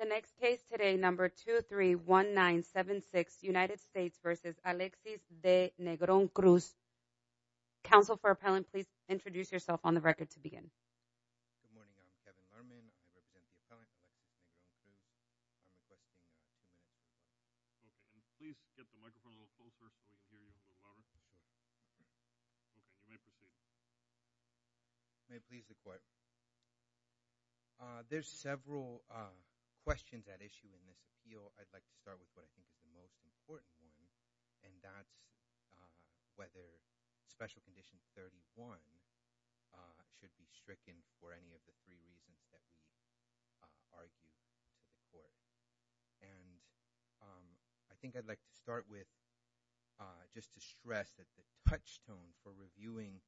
The next case today, number 231976, United States v. Alexis de Negron-Cruz. Counsel for appellant, please introduce yourself on the record to begin. Good morning, I'm Kevin Lerman, I represent the appellant's office in New York City. There's several questions at issue in this appeal, I'd like to start with what I think is the most important one, and that's whether Special Condition 31 should be stricken for any of the three reasons that we argued in the court. I think I'd like to start with just to stress that the touchstone for reviewing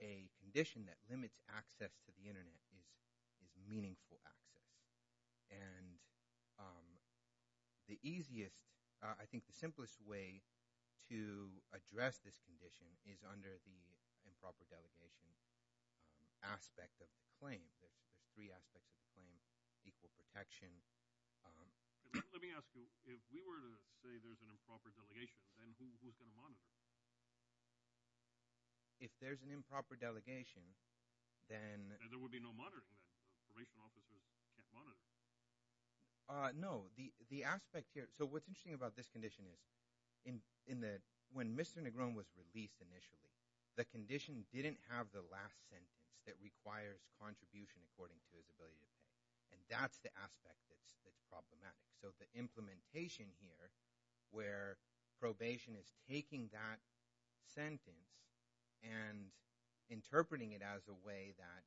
a condition that limits access to the internet is meaningful access. The easiest, I think the simplest way to address this condition is under the improper delegation aspect of the claim, the three aspects of the claim, equal protection. Let me ask you, if we were to say there's an improper delegation, then who's going to monitor it? If there's an improper delegation, then... Then there would be no monitoring, the information offices can't monitor it. No, the aspect here, so what's interesting about this condition is when Mr. Negron was released initially, the condition didn't have the last sentence that requires contribution according to his ability to pay, and that's the aspect that's problematic. So the implementation here where probation is taking that sentence and interpreting it as a way that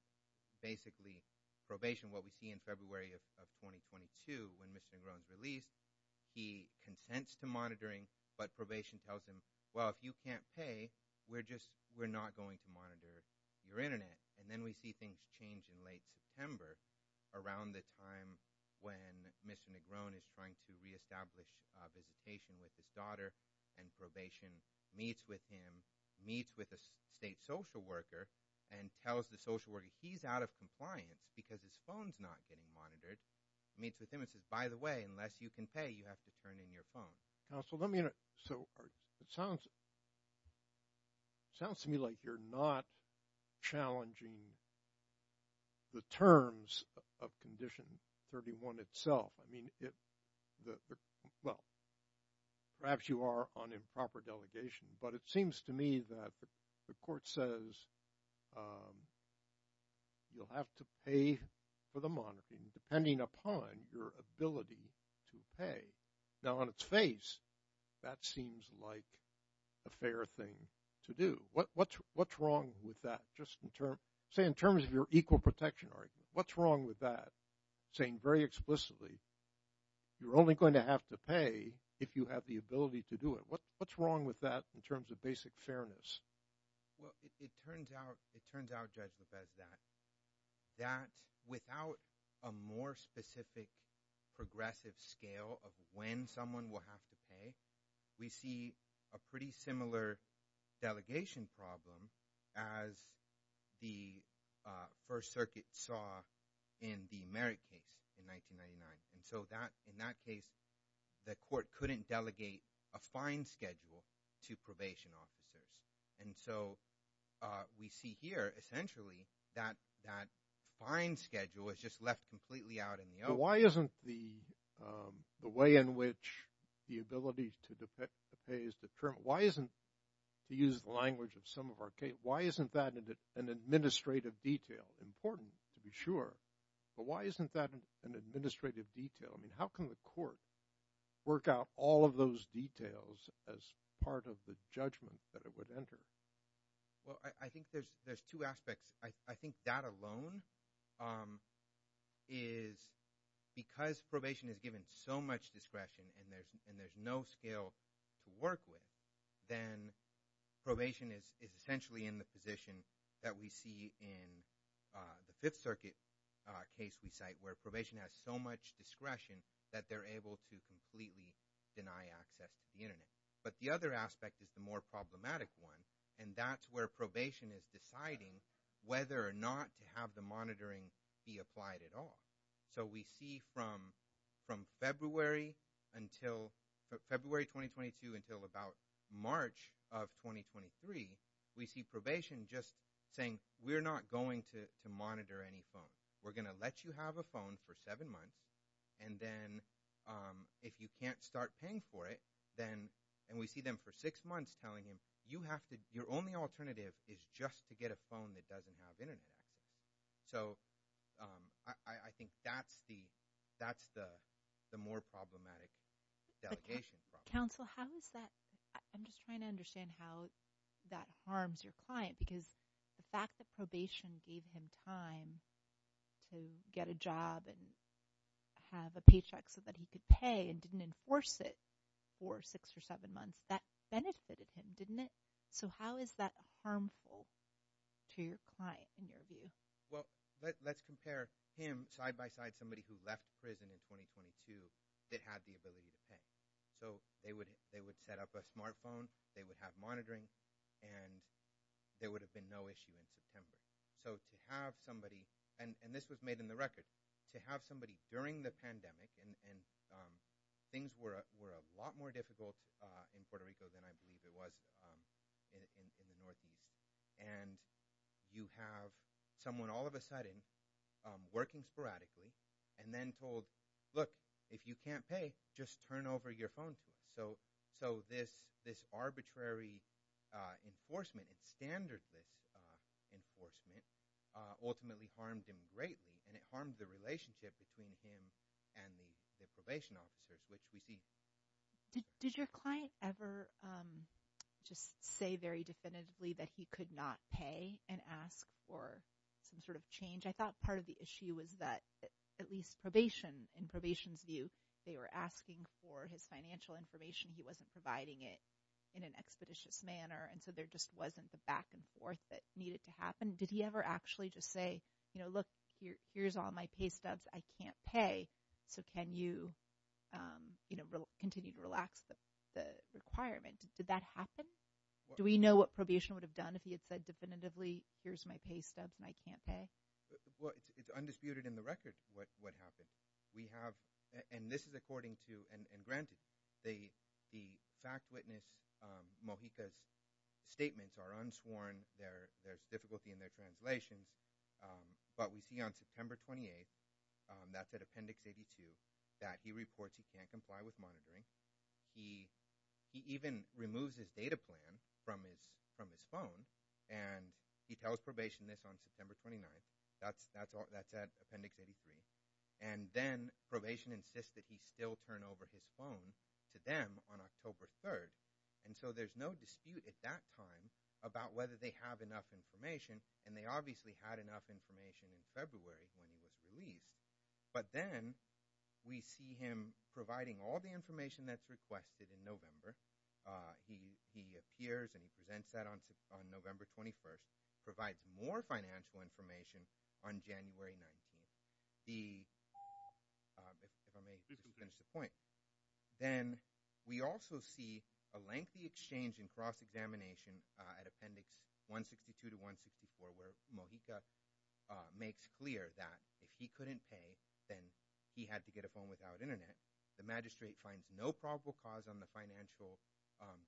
basically probation, what we see in February of 2022 when Mr. Negron's state consents to monitoring, but probation tells him, well, if you can't pay, we're just, we're not going to monitor your internet. And then we see things change in late September around the time when Mr. Negron is trying to reestablish a visitation with his daughter and probation meets with him, meets with a state social worker, and tells the social worker he's out of compliance because his phone's not getting monitored, meets with him and says, by the way, unless you can pay, you have to turn in your phone. Counsel, let me, so it sounds to me like you're not challenging the terms of condition 31 itself. I mean, well, perhaps you are on improper delegation, but it seems to me that the court says you'll have to pay for the monitoring depending upon your ability to pay. Now, on its face, that seems like a fair thing to do. What's wrong with that? Just in terms, say in terms of your equal protection argument, what's wrong with that? Saying very explicitly, you're only going to have to pay if you have the ability to do it. What's wrong with that in terms of basic fairness? Well, it turns out, it turns out, Judge, that without a more specific progressive scale of when someone will have to pay, we see a pretty similar delegation problem as the First Circuit saw in the Merrick case in 1999. And so in that case, the court couldn't delegate a fine schedule to probation officers. And so we see here essentially that that fine schedule is just left completely out in the open. Why isn't the way in which the ability to pay is determined, why isn't, to use the language of some of our cases, why isn't that an administrative detail? Important to be sure, but why isn't that an administrative detail? I mean, how can the court work out all of those details as part of the judgment that it would enter? Well, I think there's two aspects. I think that alone is because probation is given so much discretion and there's no scale to work with, then probation is essentially in the position that we see in the Fifth Circuit case we cite, where probation has so much discretion that they're able to completely deny access to the Internet. But the other aspect is the more problematic one, and that's where probation is deciding whether or not to have the monitoring be applied at all. So we see from February 2022 until about March of 2023, we see probation just saying, we're not going to monitor any phones. We're going to let you have a phone for seven months, and then if you can't start paying for it, then, and we see them for six months telling him, your only alternative is just to get a phone that doesn't have Internet. So I think that's the more problematic delegation problem. Counsel, how is that – I'm just trying to understand how that harms your client because the fact that probation gave him time to get a job and have a paycheck so that he could pay and didn't enforce it for six or seven months, that benefited him, didn't it? So how is that harmful to your client in your view? Well, let's compare him side-by-side somebody who left prison in 2022 that had the ability to pay. So they would set up a smartphone, they would have monitoring, and there would have been no issue in September. So to have somebody – and this was made in the record – to have somebody during the pandemic, and things were a lot more difficult in Puerto Rico than I believe it was in the Northeast. And you have someone all of a sudden working sporadically and then told, look, if you can't pay, just turn over your phone to me. So this arbitrary enforcement, standard enforcement, ultimately harmed him greatly, and it harmed the relationship between him and the probation officer, which we see. Did your client ever just say very definitively that he could not pay and ask for some sort of change? I thought part of the issue was that at least probation, in probation's view, they were asking for his financial information. He wasn't providing it in an expeditious manner, and so there just wasn't the back and forth that needed to happen. Did he ever actually just say, look, here's all my pay stubs, I can't pay, so can you continue to relax the requirement? Did that happen? Do we know what probation would have done if he had said definitively, here's my pay stubs and I can't pay? Well, it's undisputed in the record what happened. We have – and this is according to – and granted, the fact witness Mojica's statements are unsworn, there's difficulty in their translations, but we see on September 28th, that's at Appendix 82, that he reports he can't comply with monitoring. He even removes his data plan from his phone, and he tells probation this on September 29th. That's at Appendix 83. And then probation insists that he still turn over his phone to them on October 3rd. And so there's no dispute at that time about whether they have enough information, and they obviously had enough information in February when he was released. But then we see him providing all the information that's requested in November. He appears and presents that on November 21st, provides more financial information on January 19th. The – if I may finish the point. Then we also see a lengthy exchange and cross-examination at Appendix 162 to 164, where Mojica makes clear that if he couldn't pay, then he had to get a phone without Internet. The magistrate finds no probable cause on the financial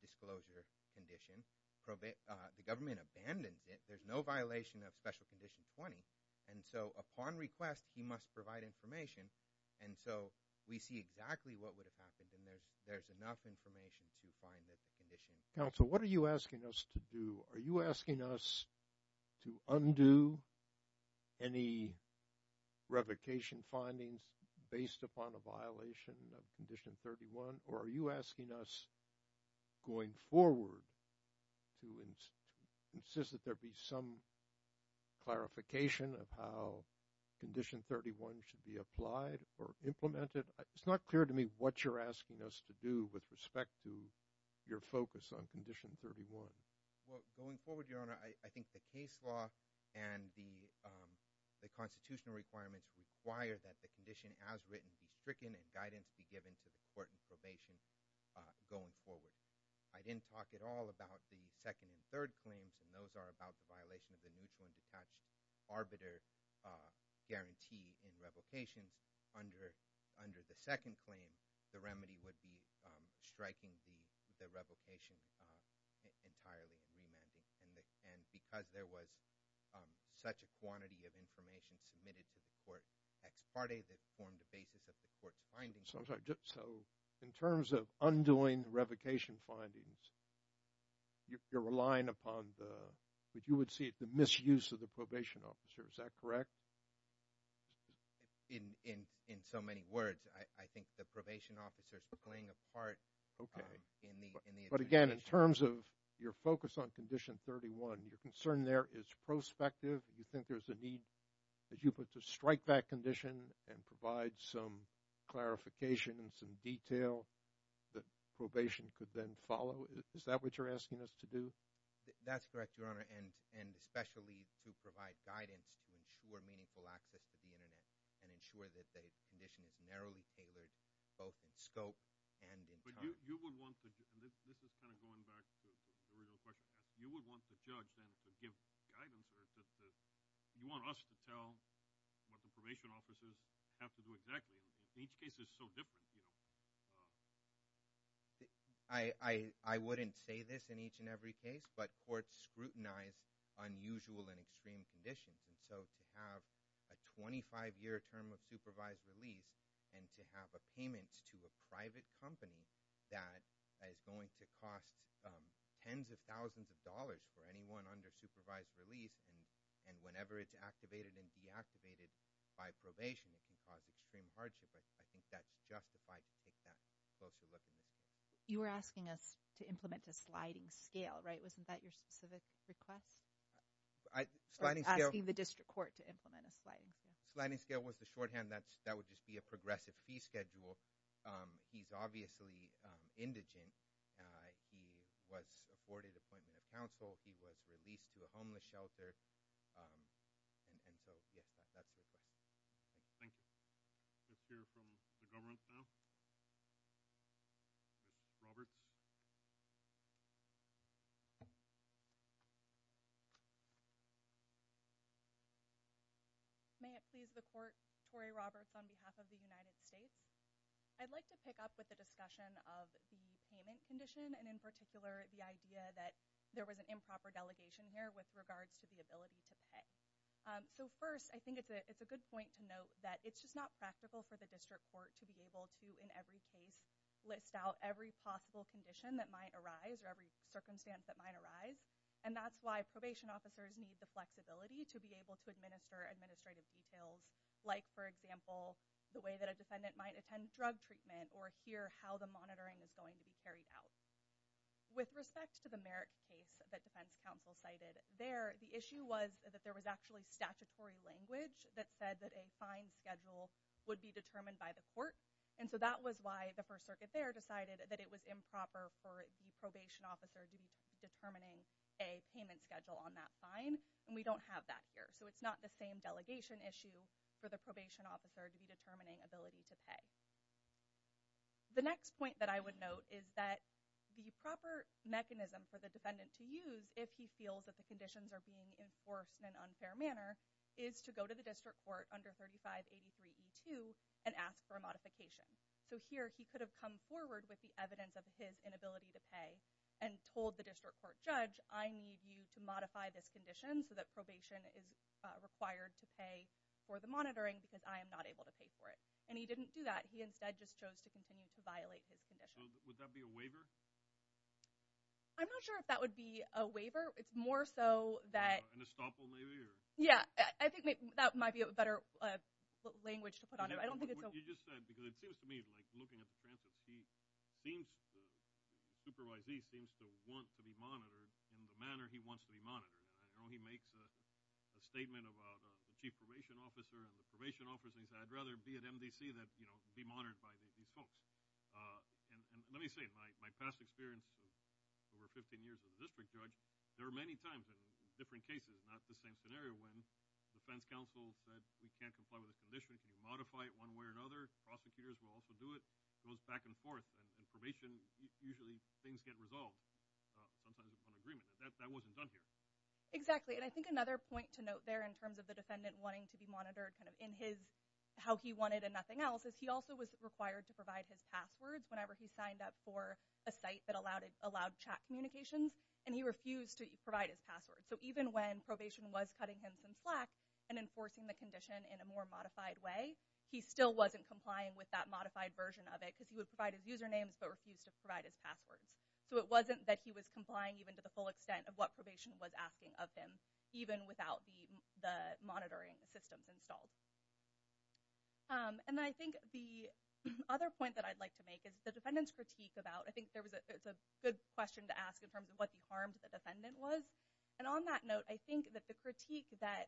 disclosure condition. The government abandoned it. There's no violation of Special Condition 20. And so upon request, he must provide information. And so we see exactly what would have happened, and there's enough information to find this condition. Counsel, what are you asking us to do? Are you asking us to undo any revocation findings based upon a violation of Condition 31? Or are you asking us going forward to insist that there be some clarification of how Condition 31 should be applied or implemented? It's not clear to me what you're asking us to do with respect to your focus on Condition 31. Well, going forward, Your Honor, I think the case law and the constitutional requirements require that the condition as written be stricken and guidance be given to the court in probation going forward. I didn't talk at all about the second and third claims, and those are about the violation of the Newfound Detached Arbiter Guarantee in revocation. Under the second claim, the remedy would be striking the revocation entirely remanded. And because there was such a quantity of information submitted to the court ex parte, that formed the basis of the court's findings. I'm sorry. So in terms of undoing revocation findings, you're relying upon what you would see as the misuse of the probation officer. Is that correct? In so many words, I think the probation officer is playing a part in the administration. In terms of your focus on Condition 31, your concern there is prospective. Do you think there's a need that you put to strike that condition and provide some clarification and some detail that probation could then follow? Is that what you're asking us to do? That's correct, Your Honor, and especially to provide guidance to ensure meaningful access to the Internet and ensure that the condition is narrowly tailored both in scope and in time. This is kind of going back to the original question. You would want the judge then to give guidance. You want us to tell what the probation officers have to do exactly. Each case is so different. I wouldn't say this in each and every case, but courts scrutinize unusual and extreme conditions. And so to have a 25-year term of supervised release and to have a payment to a private company that is going to cost tens of thousands of dollars for anyone under supervised release and whenever it's activated and deactivated by probation, it can cause extreme hardship. I think that's justified to take that closer look. You were asking us to implement a sliding scale, right? Wasn't that your specific request? I was asking the district court to implement a sliding scale. Sliding scale was the shorthand. That would just be a progressive pre-schedule. He's obviously indigent. He was afforded appointment of counsel. He was released to a homeless shelter. And so, yes, that's what it is. Thank you. Let's hear from the government now. Robert? May it please the court, Corey Roberts on behalf of the United States. I'd like to pick up with the discussion of the payment condition and, in particular, the idea that there was an improper delegation here with regards to the ability to pay. So, first, I think it's a good point to note that it's just not practical for the district court to be able to, in every case, list out every possible condition that might arise or every circumstance that might arise. And that's why probation officers need the flexibility to be able to administer administrative details, like, for example, the way that a defendant might attend drug treatment or hear how the monitoring is going to be carried out. With respect to the Merritt case that defense counsel cited there, the issue was that there was actually statutory language that said that a fine schedule would be determined by the court. And so that was why the First Circuit there decided that it was improper for the probation officer to be determining a payment schedule on that fine, and we don't have that here. So it's not the same delegation issue for the probation officer to be determining ability to pay. The next point that I would note is that the proper mechanism for the defendant to use if he feels that the conditions are being enforced in an unfair manner is to go to the district court under 3583E2 and ask for a modification. So here he could have come forward with the evidence of his inability to pay and told the district court judge, I need you to modify this condition so that probation is required to pay for the monitoring because I am not able to pay for it. And he didn't do that. He instead just chose to continue to violate his condition. Would that be a waiver? I'm not sure if that would be a waiver. It's more so that— An estoppel, maybe? Yeah, I think that might be a better language to put on it. You just said, because it seems to me like looking at the transcript, the supervisor seems to want to be monitored in the manner he wants to be monitored. I know he makes a statement about a chief probation officer and the probation officer says I'd rather be at MDC than be monitored by these folks. And let me say, my past experience with over 15 years as a district judge, there are many times in different cases, not the same scenario, when defense counsel said you can't comply with a condition, can you modify it one way or another? Prosecutors will also do it. It goes back and forth. In probation, usually things get resolved. Sometimes it's an agreement. That wasn't done here. Exactly, and I think another point to note there in terms of the defendant wanting to be monitored in his—how he wanted and nothing else, is he also was required to provide his password whenever he signed up for a site that allowed chat communications, and he refused to provide his password. So even when probation was cutting him some slack and enforcing the condition in a more modified way, he still wasn't complying with that modified version of it because he would provide his usernames but refused to provide his passwords. So it wasn't that he was complying even to the full extent of what probation was asking of him, even without the monitoring systems installed. And I think the other point that I'd like to make is the defendant's critique about— I think it's a good question to ask in terms of what the harm to the defendant was, and on that note, I think that the critique that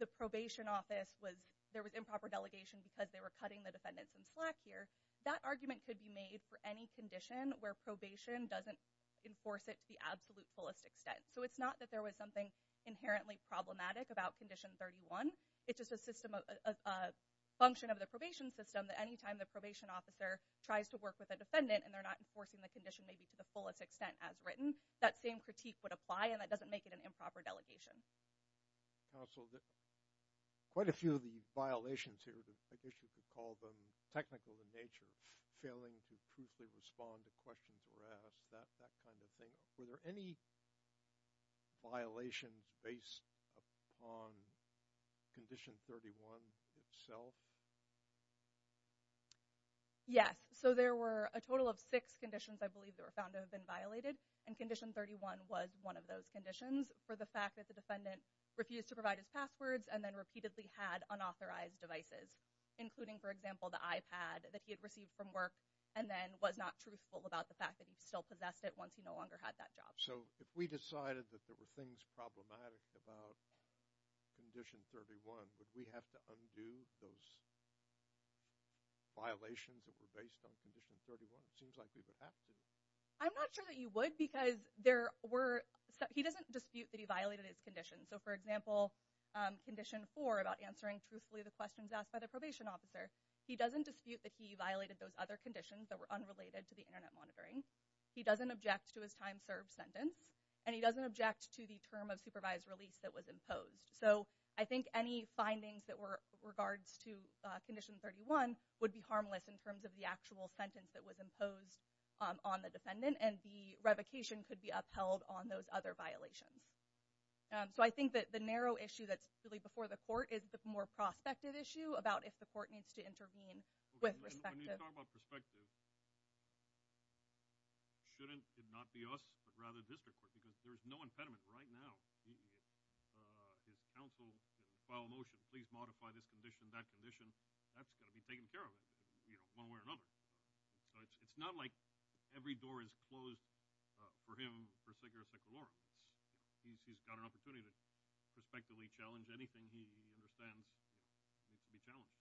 the probation office was— there was improper delegation because they were cutting the defendants some slack here, that argument could be made for any condition where probation doesn't enforce it to the absolute fullest extent. So it's not that there was something inherently problematic about Condition 31. It's just a system of—a function of the probation system that any time the probation officer tries to work with a defendant and they're not enforcing the condition maybe to the fullest extent as written, that same critique would apply and that doesn't make it an improper delegation. So quite a few of these violations here, I guess you could call them technical in nature, failing to truthfully respond to questions were asked, that kind of thing. Were there any violations based upon Condition 31 itself? Yes. So there were a total of six conditions I believe that were found to have been violated, and Condition 31 was one of those conditions for the fact that the defendant refused to provide his passwords and then repeatedly had unauthorized devices, including, for example, the iPad that he had received from work and then was not truthful about the fact that he still possessed it once he no longer had that job. So if we decided that there were things problematic about Condition 31, would we have to undo those violations that were based on Condition 31? It seems like we would have to. I'm not sure that you would because he doesn't dispute that he violated its conditions. So, for example, Condition 4 about answering truthfully the questions asked by the probation officer, he doesn't dispute that he violated those other conditions that were unrelated to the Internet monitoring. He doesn't object to his time served sentence, and he doesn't object to the term of supervised release that was imposed. So I think any findings that were regards to Condition 31 would be harmless in terms of the actual sentence that was imposed on the defendant, and the revocation could be upheld on those other violations. So I think that the narrow issue that's really before the court is the more prospective issue about if the court needs to intervene with respect to— When you talk about prospective, shouldn't it not be us, but rather the district? Because there is no impediment right now. If counsel filed a motion to please modify this condition, that condition, that's got to be taken care of one way or another. So it's not like every door is closed for him for a second or a second more. He's got an opportunity to prospectively challenge anything he understands needs to be challenged.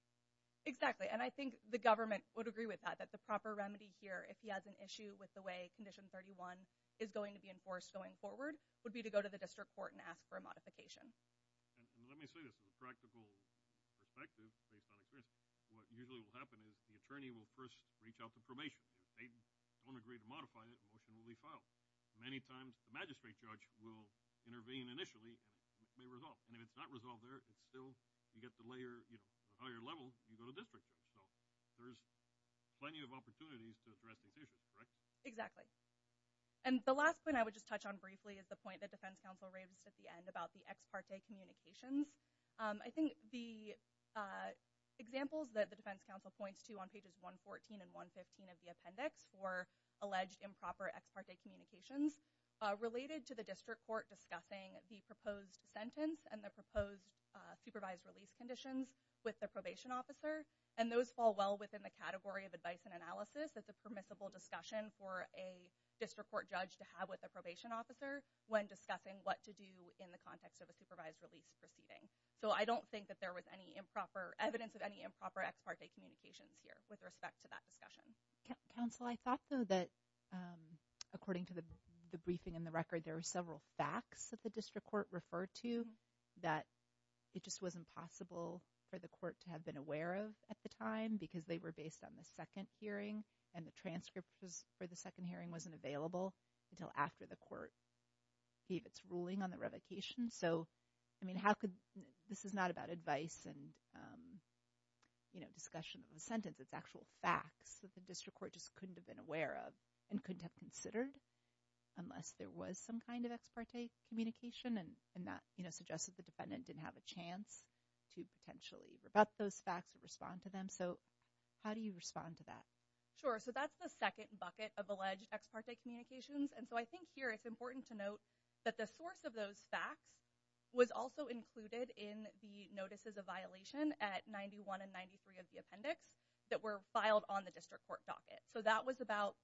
Exactly, and I think the government would agree with that, that the proper remedy here, if he has an issue with the way Condition 31 is going to be enforced going forward, would be to go to the district court and ask for a modification. And let me say this, in a practical perspective, based on experience, what usually will happen is the attorney will first reach out to probation. If they don't agree to modify it, the motion will be filed. Many times the magistrate judge will intervene initially, and it may resolve. And if it's not resolved there, it's still—you get the higher level, you go to district. So there's plenty of opportunities to address this issue, correct? Exactly. And the last point I would just touch on briefly is the point that defense counsel raised at the end about the ex parte communications. I think the examples that the defense counsel points to on pages 114 and 115 of the appendix for alleged improper ex parte communications are related to the district court discussing the proposed sentence and the proposed supervised release conditions with the probation officer. And those fall well within the category of advice and analysis that the permissible discussion for a district court judge to have with the probation officer when discussing what to do in the context of a supervised release proceeding. So I don't think that there was any improper—evidence of any improper ex parte communications here with respect to that discussion. Counsel, I thought, though, that according to the briefing and the record, there were several facts that the district court referred to that it just wasn't possible for the court to have been aware of at the time because they were based on the second hearing and the transcript for the second hearing wasn't available until after the court gave its ruling on the revocation. So, I mean, how could—this is not about advice and, you know, discussion of the sentence. It's actual facts that the district court just couldn't have been aware of and couldn't have considered unless there was some kind of ex parte communication and that, you know, suggested the defendant didn't have a chance to potentially rebut those facts or respond to them. So how do you respond to that? Sure. So that's the second bucket of alleged ex parte communications. And so I think here it's important to note that the source of those facts was also included in the notices of violation at 91 and 93 of the appendix that were filed on the district court docket. So that was about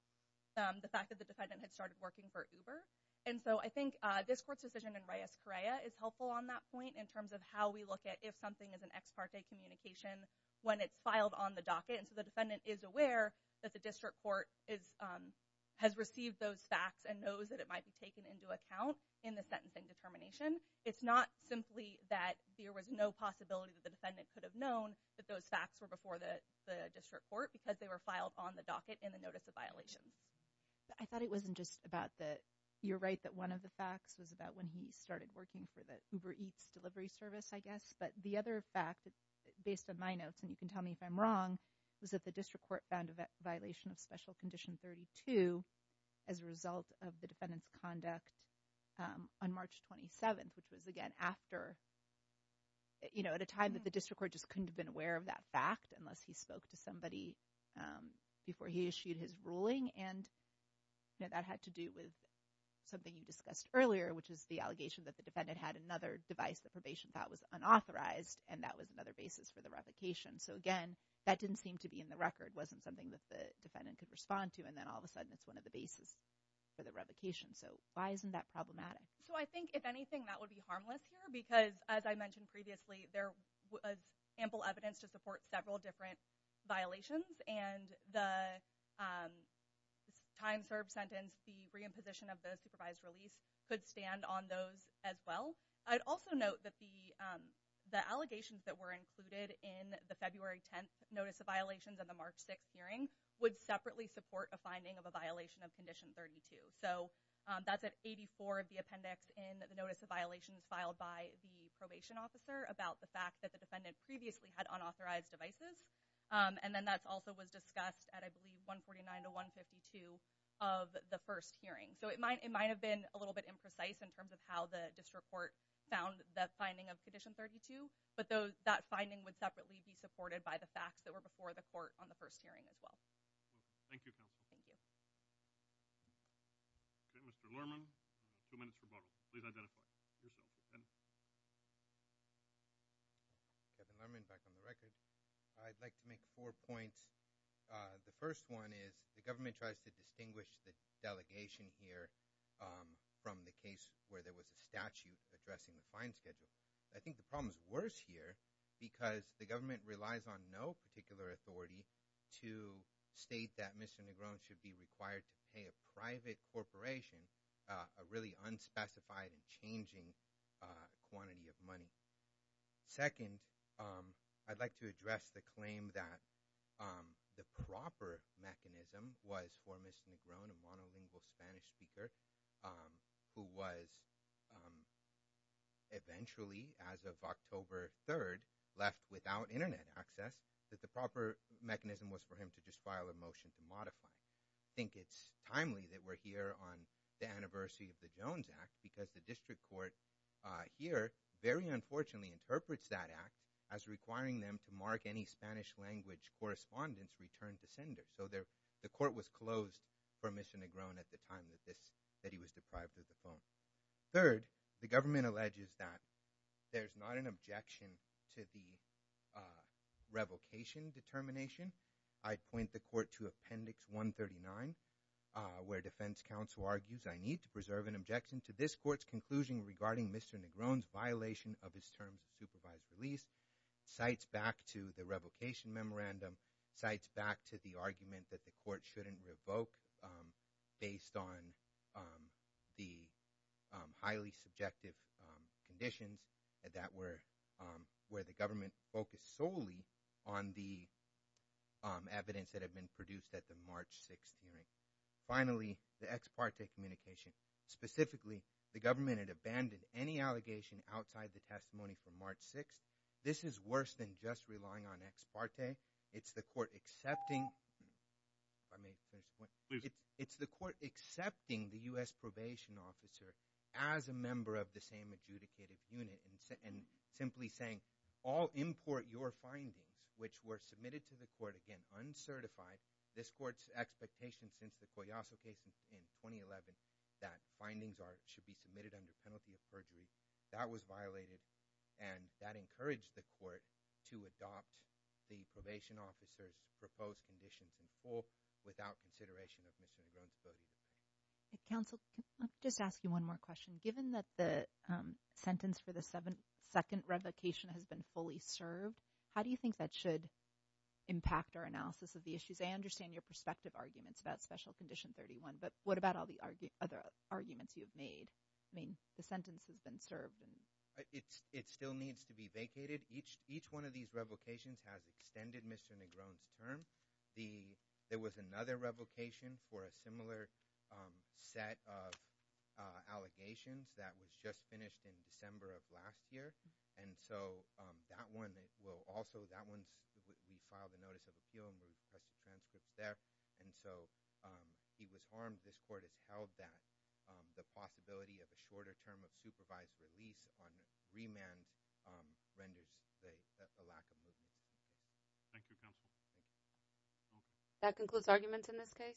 the fact that the defendant had started working for Uber. And so I think this court's decision in Reyes-Correa is helpful on that point in terms of how we look at if something is an ex parte communication when it's filed on the docket. And so the defendant is aware that the district court has received those facts and knows that it might be taken into account in the sentencing determination. It's not simply that there was no possibility that the defendant could have known that those facts were before the district court because they were filed on the docket in the notice of violation. I thought it wasn't just about the—you're right that one of the facts was about when he started working for the Uber Eats delivery service, I guess. But the other fact, based on my notes, and you can tell me if I'm wrong, was that the district court found a violation of Special Condition 32 as a result of the defendant's conduct on March 27th, which was, again, after— at a time that the district court just couldn't have been aware of that fact unless he spoke to somebody before he issued his ruling. And that had to do with something you discussed earlier, which is the allegation that the defendant had another device that probation thought was unauthorized, and that was another basis for the revocation. So, again, that didn't seem to be in the record. It wasn't something that the defendant could respond to, and then all of a sudden it's one of the bases for the revocation. So why isn't that problematic? So I think, if anything, that would be harmless here because, as I mentioned previously, there was ample evidence to support several different violations. And the time served sentence, the reimposition of the supervised release, could stand on those as well. I'd also note that the allegations that were included in the February 10th Notice of Violations and the March 6th hearing would separately support a finding of a violation of Condition 32. So that's at 84 of the appendix in the Notice of Violations filed by the probation officer about the fact that the defendant previously had unauthorized devices. And then that also was discussed at, I believe, 149 to 152 of the first hearing. So it might have been a little bit imprecise in terms of how the district court found that finding of Condition 32, but that finding would separately be supported by the facts that were before the court on the first hearing as well. Thank you, counsel. Thank you. Okay, Mr. Lerman, two minutes to go. Please identify yourself. Kevin Lerman, back on the record. I'd like to make four points. The first one is the government tries to distinguish the delegation here from the case where there was a statute addressing the fine schedule. I think the problem is worse here because the government relies on no particular authority to state that Mr. Negron should be required to pay a private corporation a really unspecified and changing quantity of money. Second, I'd like to address the claim that the proper mechanism was for Mr. Negron, a monolingual Spanish speaker, who was eventually, as of October 3rd, left without Internet access, that the proper mechanism was for him to just file a motion to modify. I think it's timely that we're here on the anniversary of the Jones Act because the district court here very unfortunately interprets that act as requiring them to mark any Spanish language correspondence returned to sender. So the court was closed for Mr. Negron at the time that he was deprived of the phone. Third, the government alleges that there's not an objection to the revocation determination. I'd point the court to Appendix 139 where defense counsel argues I need to preserve an objection to this court's conclusion regarding Mr. Negron's violation of his term of supervised release, cites back to the revocation memorandum, cites back to the argument that the court shouldn't revoke based on the highly subjective conditions where the government focused solely on the evidence that had been produced at the March 6th hearing. Finally, the ex parte communication. Specifically, the government had abandoned any allegation outside the testimony from March 6th. This is worse than just relying on ex parte. It's the court accepting the U.S. probation officer as a member of the same adjudicated unit and simply saying all import your findings which were submitted to the court, again, uncertified. This court's expectation since the Coyasso case in 2011 that findings should be submitted under penalty of perjury. That was violated, and that encouraged the court to adopt the probation officer's proposed conditions in full without consideration of Mr. Negron's ability. Counsel, I'll just ask you one more question. Given that the sentence for the second revocation has been fully served, how do you think that should impact our analysis of the issues? I understand your perspective arguments about Special Condition 31, but what about all the other arguments you've made? I mean, the sentence has been served. It still needs to be vacated. Each one of these revocations has extended Mr. Negron's term. There was another revocation for a similar set of allegations that was just finished in December of last year. And so that one will also – that one, we filed a notice of appeal and we put the sentence there. And so he was harmed. This court has held that. The possibility of a shorter term of supervised release on remand renders a lack of legitimacy. Thank you, counsel. That concludes arguments in this case.